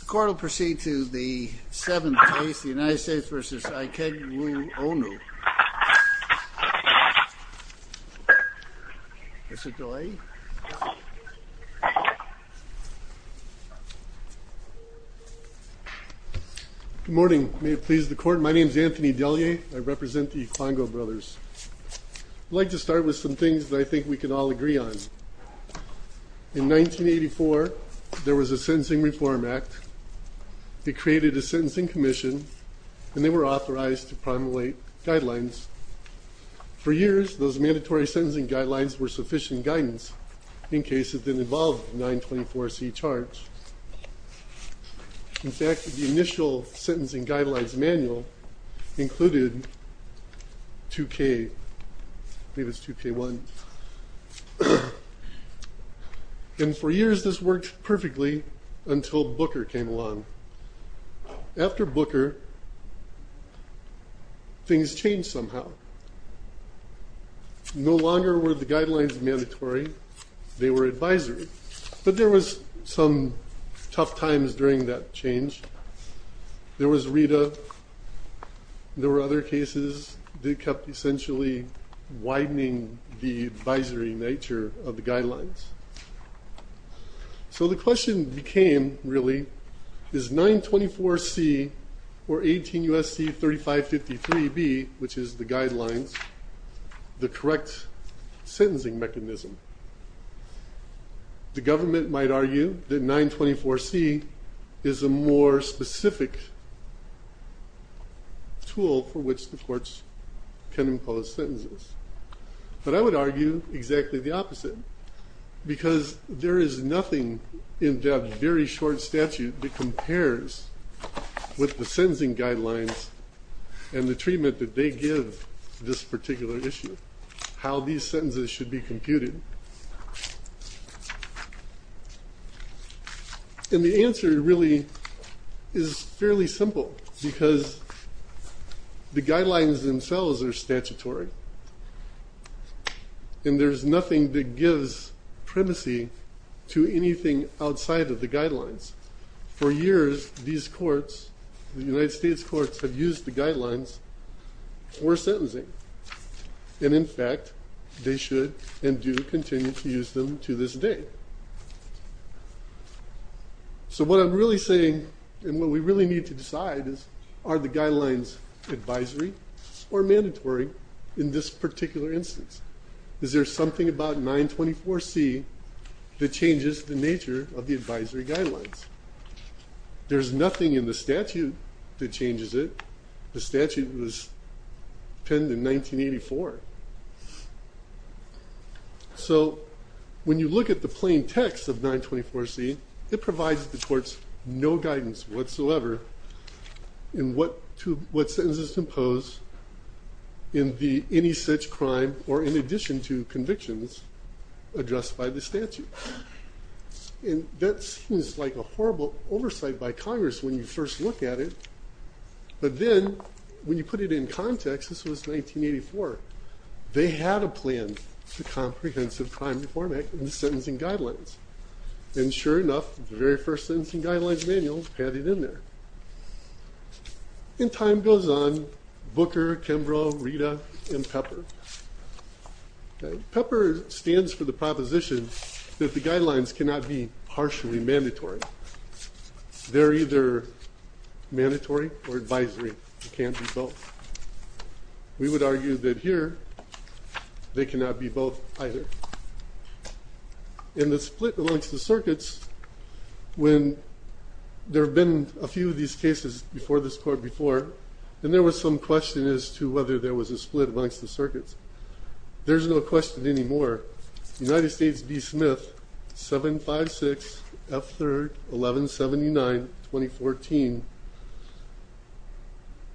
The court will proceed to the 7th case, the United States v. Ikegwuonu. Good morning. May it please the court, my name is Anthony Delier, I represent the Iklango brothers. I'd like to start with some things that I think we can all agree on. In 1984, there was a Sentencing Reform Act. It created a Sentencing Commission, and they were authorized to promulgate guidelines. For years, those mandatory sentencing guidelines were sufficient guidance, in case it didn't involve the 924C charge. In fact, the initial sentencing guidelines manual included 2K1. And for years this worked perfectly, until Booker came along. After Booker, things changed somehow. No longer were the guidelines mandatory, they were advisory. But there was some tough times during that change. There was RETA, there were other cases that kept essentially widening the advisory nature of the guidelines. So the question became, really, is 924C or 18 U.S.C. 3553B, which is the guidelines, the correct sentencing mechanism? The government might argue that 924C is a more specific tool for which the courts can impose sentences. But I would argue exactly the opposite. Because there is nothing in that very short statute that compares with the sentencing guidelines and the treatment that they give this particular issue, how these sentences should be computed. And the answer, really, is fairly simple. Because the guidelines themselves are statutory. And there's nothing that gives primacy to anything outside of the guidelines. For years, these courts, the United States courts, have used the guidelines for sentencing. And in fact, they should and do continue to use them to this day. So what I'm really saying, and what we really need to decide, is are the guidelines advisory or mandatory in this particular instance? Is there something about 924C that changes the nature of the advisory guidelines? There's nothing in the statute that changes it. The statute was penned in 1984. So when you look at the plain text of 924C, it provides the courts no guidance whatsoever in what sentences impose in any such crime or in addition to convictions addressed by the statute. And that seems like a horrible oversight by Congress when you first look at it. But then, when you put it in context, this was 1984. They had a plan, the Comprehensive Crime Reform Act, and the sentencing guidelines. And sure enough, the very first sentencing guidelines manual had it in there. And time goes on. Booker, Kimbrough, Rita, and Pepper. Pepper stands for the proposition that the guidelines cannot be partially mandatory. They're either mandatory or advisory. It can't be both. We would argue that here, they cannot be both either. In the split amongst the circuits, when there have been a few of these cases before this court before, and there was some question as to whether there was a split amongst the circuits. There's no question anymore. But United States v. Smith, 756 F. 3rd, 1179, 2014,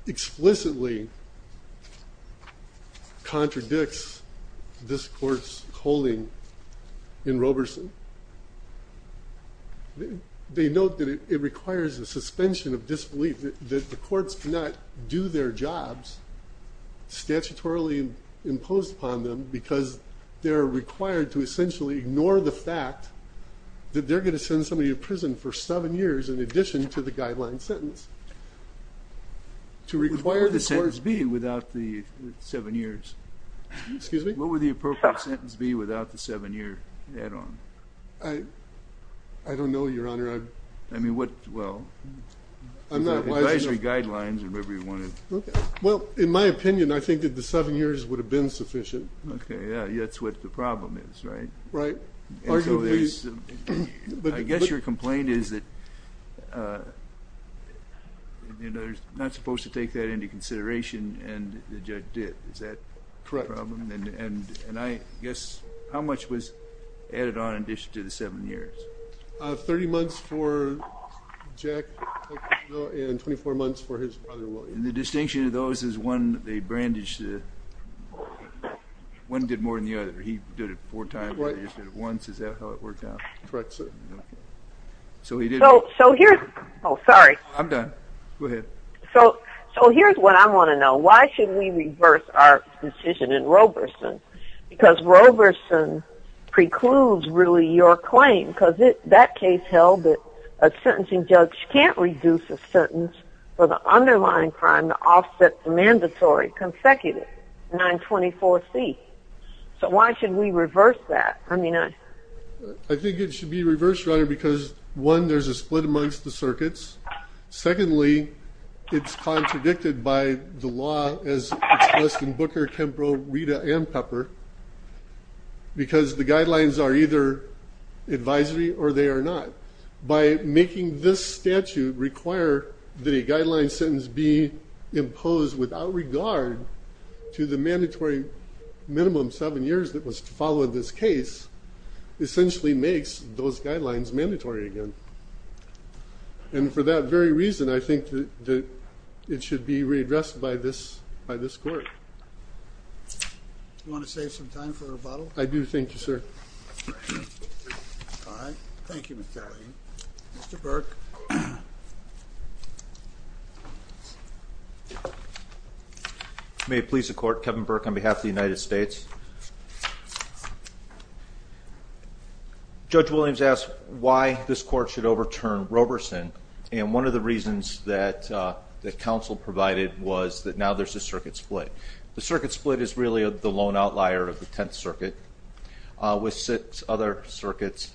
explicitly contradicts this court's holding in Roberson. They note that it requires a suspension of disbelief that the courts cannot do their jobs statutorily imposed upon them because they're required to essentially ignore the fact that they're going to send somebody to prison for seven years in addition to the guideline sentence. What would the sentence be without the seven years? Excuse me? What would the appropriate sentence be without the seven year add-on? I don't know, Your Honor. I mean, what, well, advisory guidelines or whatever you wanted. Well, in my opinion, I think that the seven years would have been sufficient. Okay, yeah, that's what the problem is, right? Right. I guess your complaint is that they're not supposed to take that into consideration, and the judge did. Is that the problem? Correct. And I guess how much was added on in addition to the seven years? 30 months for Jack and 24 months for his brother, William. And the distinction of those is one, they brandished it. One did more than the other. He did it four times. He just did it once. Is that how it worked out? Correct, sir. So he did it. So here's what I want to know. Why should we reverse our decision in Roberson? Because Roberson precludes, really, your claim. Because that case held that a sentencing judge can't reduce a sentence for the underlying crime to offset the mandatory consecutive 924C. So why should we reverse that? I mean, I think it should be reversed, Your Honor, because, one, there's a split amongst the circuits. Secondly, it's contradicted by the law as expressed in Booker, Kempro, Rita, and Pepper, because the guidelines are either advisory or they are not. By making this statute require that a guideline sentence be imposed without regard to the mandatory minimum seven years that was to follow in this case, essentially makes those guidelines mandatory again. And for that very reason, I think that it should be redressed by this court. Do you want to save some time for a rebuttal? I do. Thank you, sir. All right. Thank you, Mr. Lahey. Mr. Burke. May it please the Court, Kevin Burke on behalf of the United States. Judge Williams asked why this court should overturn Roberson. And one of the reasons that counsel provided was that now there's a circuit split. The circuit split is really the lone outlier of the Tenth Circuit, with six other circuits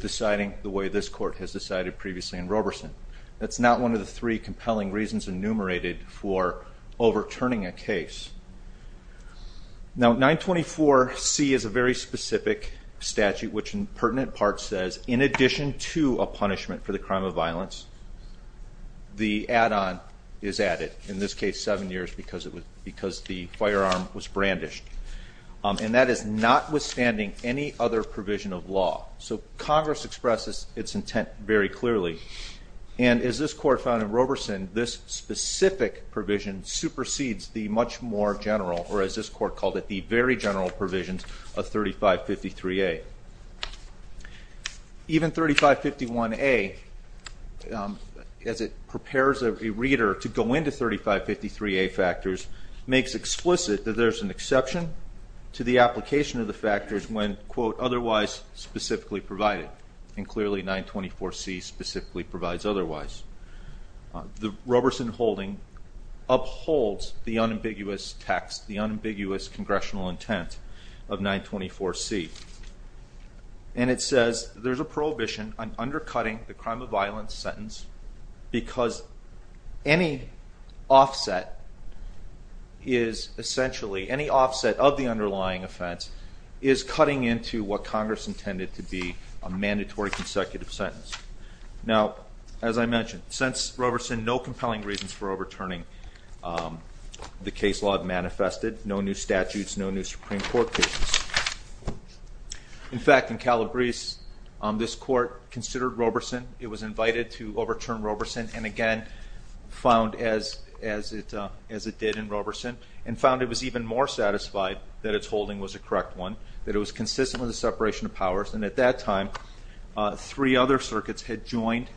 deciding the way this court has decided previously. And Roberson, that's not one of the three compelling reasons enumerated for overturning a case. Now, 924C is a very specific statute, which in pertinent parts says, in addition to a punishment for the crime of violence, the add-on is added. In this case, seven years, because the firearm was brandished. And that is notwithstanding any other provision of law. So Congress expresses its intent very clearly. And as this court found in Roberson, this specific provision supersedes the much more general, or as this court called it, the very general provisions of 3553A. Even 3551A, as it prepares a reader to go into 3553A factors, makes explicit that there's an exception to the application of the factors when, quote, otherwise specifically provided. And clearly 924C specifically provides otherwise. The Roberson holding upholds the unambiguous text, the unambiguous congressional intent of 924C. And it says there's a prohibition on undercutting the crime of violence sentence because any offset is essentially, any offset of the underlying offense is cutting into what Congress intended to be a mandatory consecutive sentence. Now, as I mentioned, since Roberson, no compelling reasons for overturning the case law have manifested, no new statutes, no new Supreme Court cases. In fact, in Calabrese, this court considered Roberson, it was invited to overturn Roberson, and again, found as it did in Roberson, and found it was even more satisfied that its holding was a correct one, that it was consistent with the separation of powers, and at that time, three other circuits had joined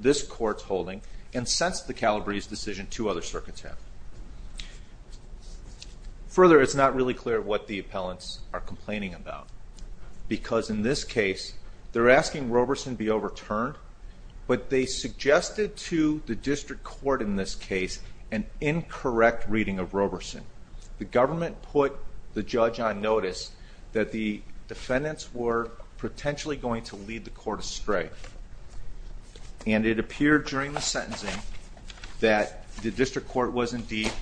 this court's holding and sensed the Calabrese decision two other circuits had. Further, it's not really clear what the appellants are complaining about because in this case, they're asking Roberson be overturned, but they suggested to the district court in this case an incorrect reading of Roberson. The government put the judge on notice that the defendants were potentially going to lead the court astray, and it appeared during the sentencing that the district court was indeed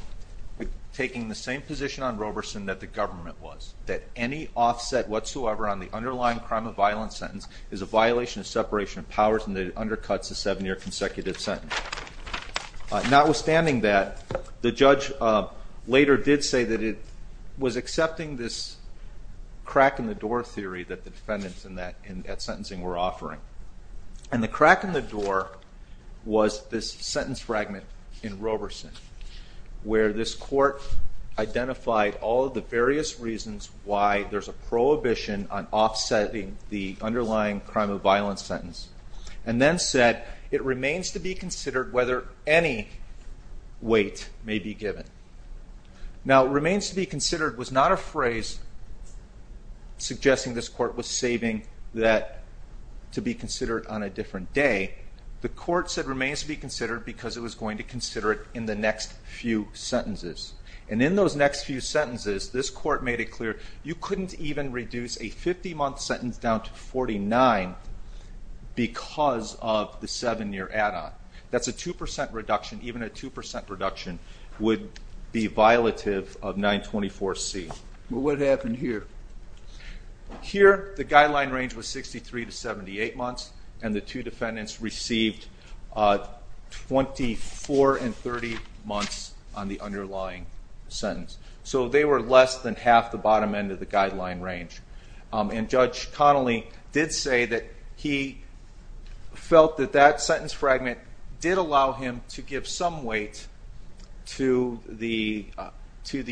taking the same position on Roberson that the government was, that any offset whatsoever on the underlying crime of violence sentence is a violation of separation of powers and that it undercuts a seven-year consecutive sentence. Notwithstanding that, the judge later did say that it was accepting this crack-in-the-door theory that the defendants at sentencing were offering, and the crack-in-the-door was this sentence fragment in Roberson, where this court identified all of the various reasons why there's a prohibition on offsetting the underlying crime of violence sentence, and then said it remains to be considered whether any weight may be given. Now, remains to be considered was not a phrase suggesting this court was saving that to be considered on a different day. The court said remains to be considered because it was going to consider it in the next few sentences. And in those next few sentences, this court made it clear you couldn't even reduce a 50-month sentence down to 49 because of the seven-year add-on. That's a 2% reduction. Even a 2% reduction would be violative of 924C. What happened here? Here, the guideline range was 63 to 78 months, and the two defendants received 24 and 30 months on the underlying sentence. So they were less than half the bottom end of the guideline range. And Judge Connolly did say that he felt that that sentence fragment did allow him to give some weight to the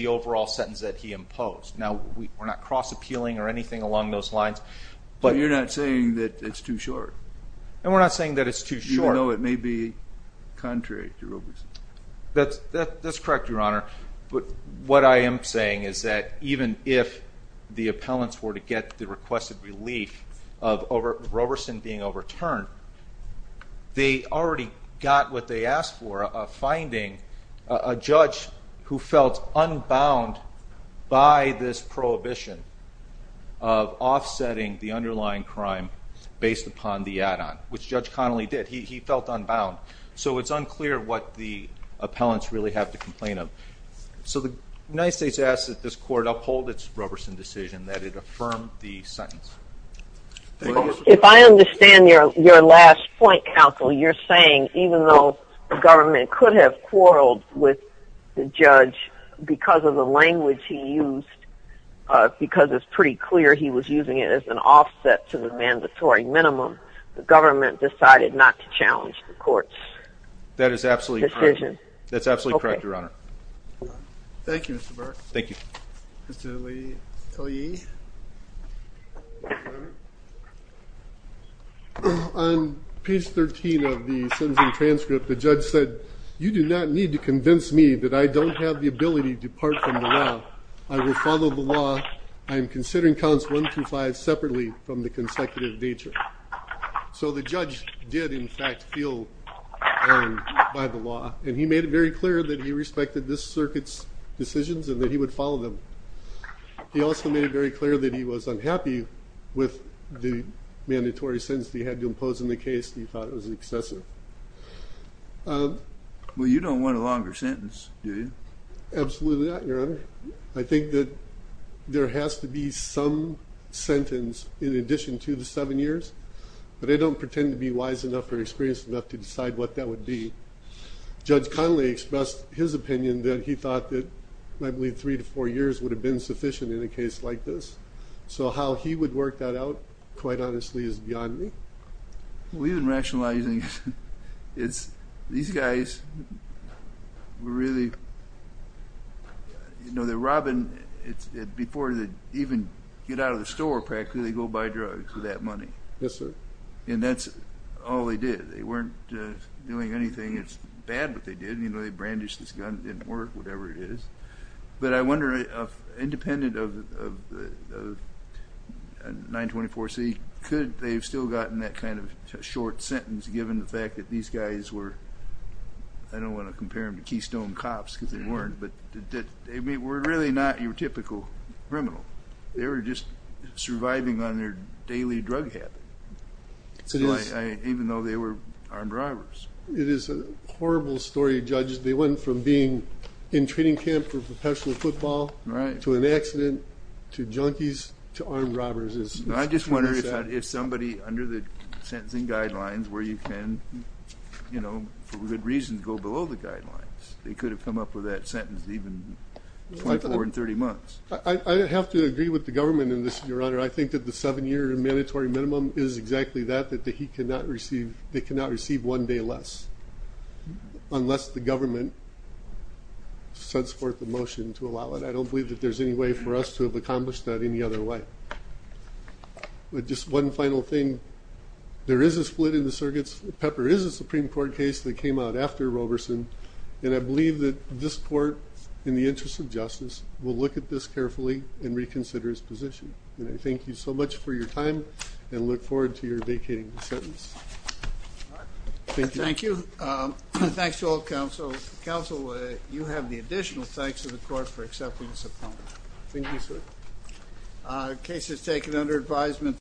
overall sentence that he imposed. Now, we're not cross-appealing or anything along those lines. But you're not saying that it's too short? And we're not saying that it's too short. Even though it may be contrary to Roberson? That's correct, Your Honor. But what I am saying is that even if the appellants were to get the requested relief of Roberson being overturned, they already got what they asked for of finding a judge who felt unbound by this prohibition of offsetting the underlying crime based upon the add-on, which Judge Connolly did. He felt unbound. So it's unclear what the appellants really have to complain of. So the United States asks that this court uphold its Roberson decision, that it affirm the sentence. If I understand your last point, counsel, you're saying even though the government could have quarreled with the judge because of the language he used, because it's pretty clear he was using it as an offset to the mandatory minimum, the government decided not to challenge the court's decision? That is absolutely correct. That's absolutely correct, Your Honor. Thank you, Mr. Burke. Thank you. Mr. Lee? On page 13 of the sentencing transcript, the judge said, you do not need to convince me that I don't have the ability to depart from the law. I will follow the law. I am considering counts one through five separately from the consecutive nature. So the judge did, in fact, feel bound by the law, and he made it very clear that he respected this circuit's decisions and that he would follow them. He also made it very clear that he was unhappy with the mandatory sentence that he had to impose in the case. He thought it was excessive. Well, you don't want a longer sentence, do you? Absolutely not, Your Honor. I think that there has to be some sentence in addition to the seven years, but I don't pretend to be wise enough or experienced enough to decide what that would be. Judge Connolly expressed his opinion that he thought that, I believe, three to four years would have been sufficient in a case like this. So how he would work that out, quite honestly, is beyond me. We've been rationalizing it. These guys were really, you know, they're robbing. Before they even get out of the store, practically, they go buy drugs with that money. Yes, sir. And that's all they did. They weren't doing anything that's bad that they did. You know, they brandished this gun. It didn't work, whatever it is. But I wonder, independent of 924C, could they have still gotten that kind of short sentence given the fact that these guys were, I don't want to compare them to Keystone cops because they weren't, but they were really not your typical criminal. They were just surviving on their daily drug habit, even though they were armed robbers. It is a horrible story, Judge. They went from being in training camp for professional football to an accident to junkies to armed robbers. I just wonder if somebody under the sentencing guidelines where you can, you know, for good reason, go below the guidelines, they could have come up with that sentence even 24 and 30 months. I have to agree with the government in this, Your Honor. Your Honor, I think that the seven-year mandatory minimum is exactly that, that they cannot receive one day less. Unless the government sends forth a motion to allow it. I don't believe that there's any way for us to have accomplished that any other way. Just one final thing. There is a split in the circuits. Pepper is a Supreme Court case that came out after Roberson. And I believe that this court, in the interest of justice, will look at this carefully and reconsider its position. And I thank you so much for your time and look forward to your vacating the sentence. Thank you. Thank you. Thanks to all counsel. Counsel, you have the additional thanks of the court for accepting this appointment. Thank you, sir. Case is taken under advisement.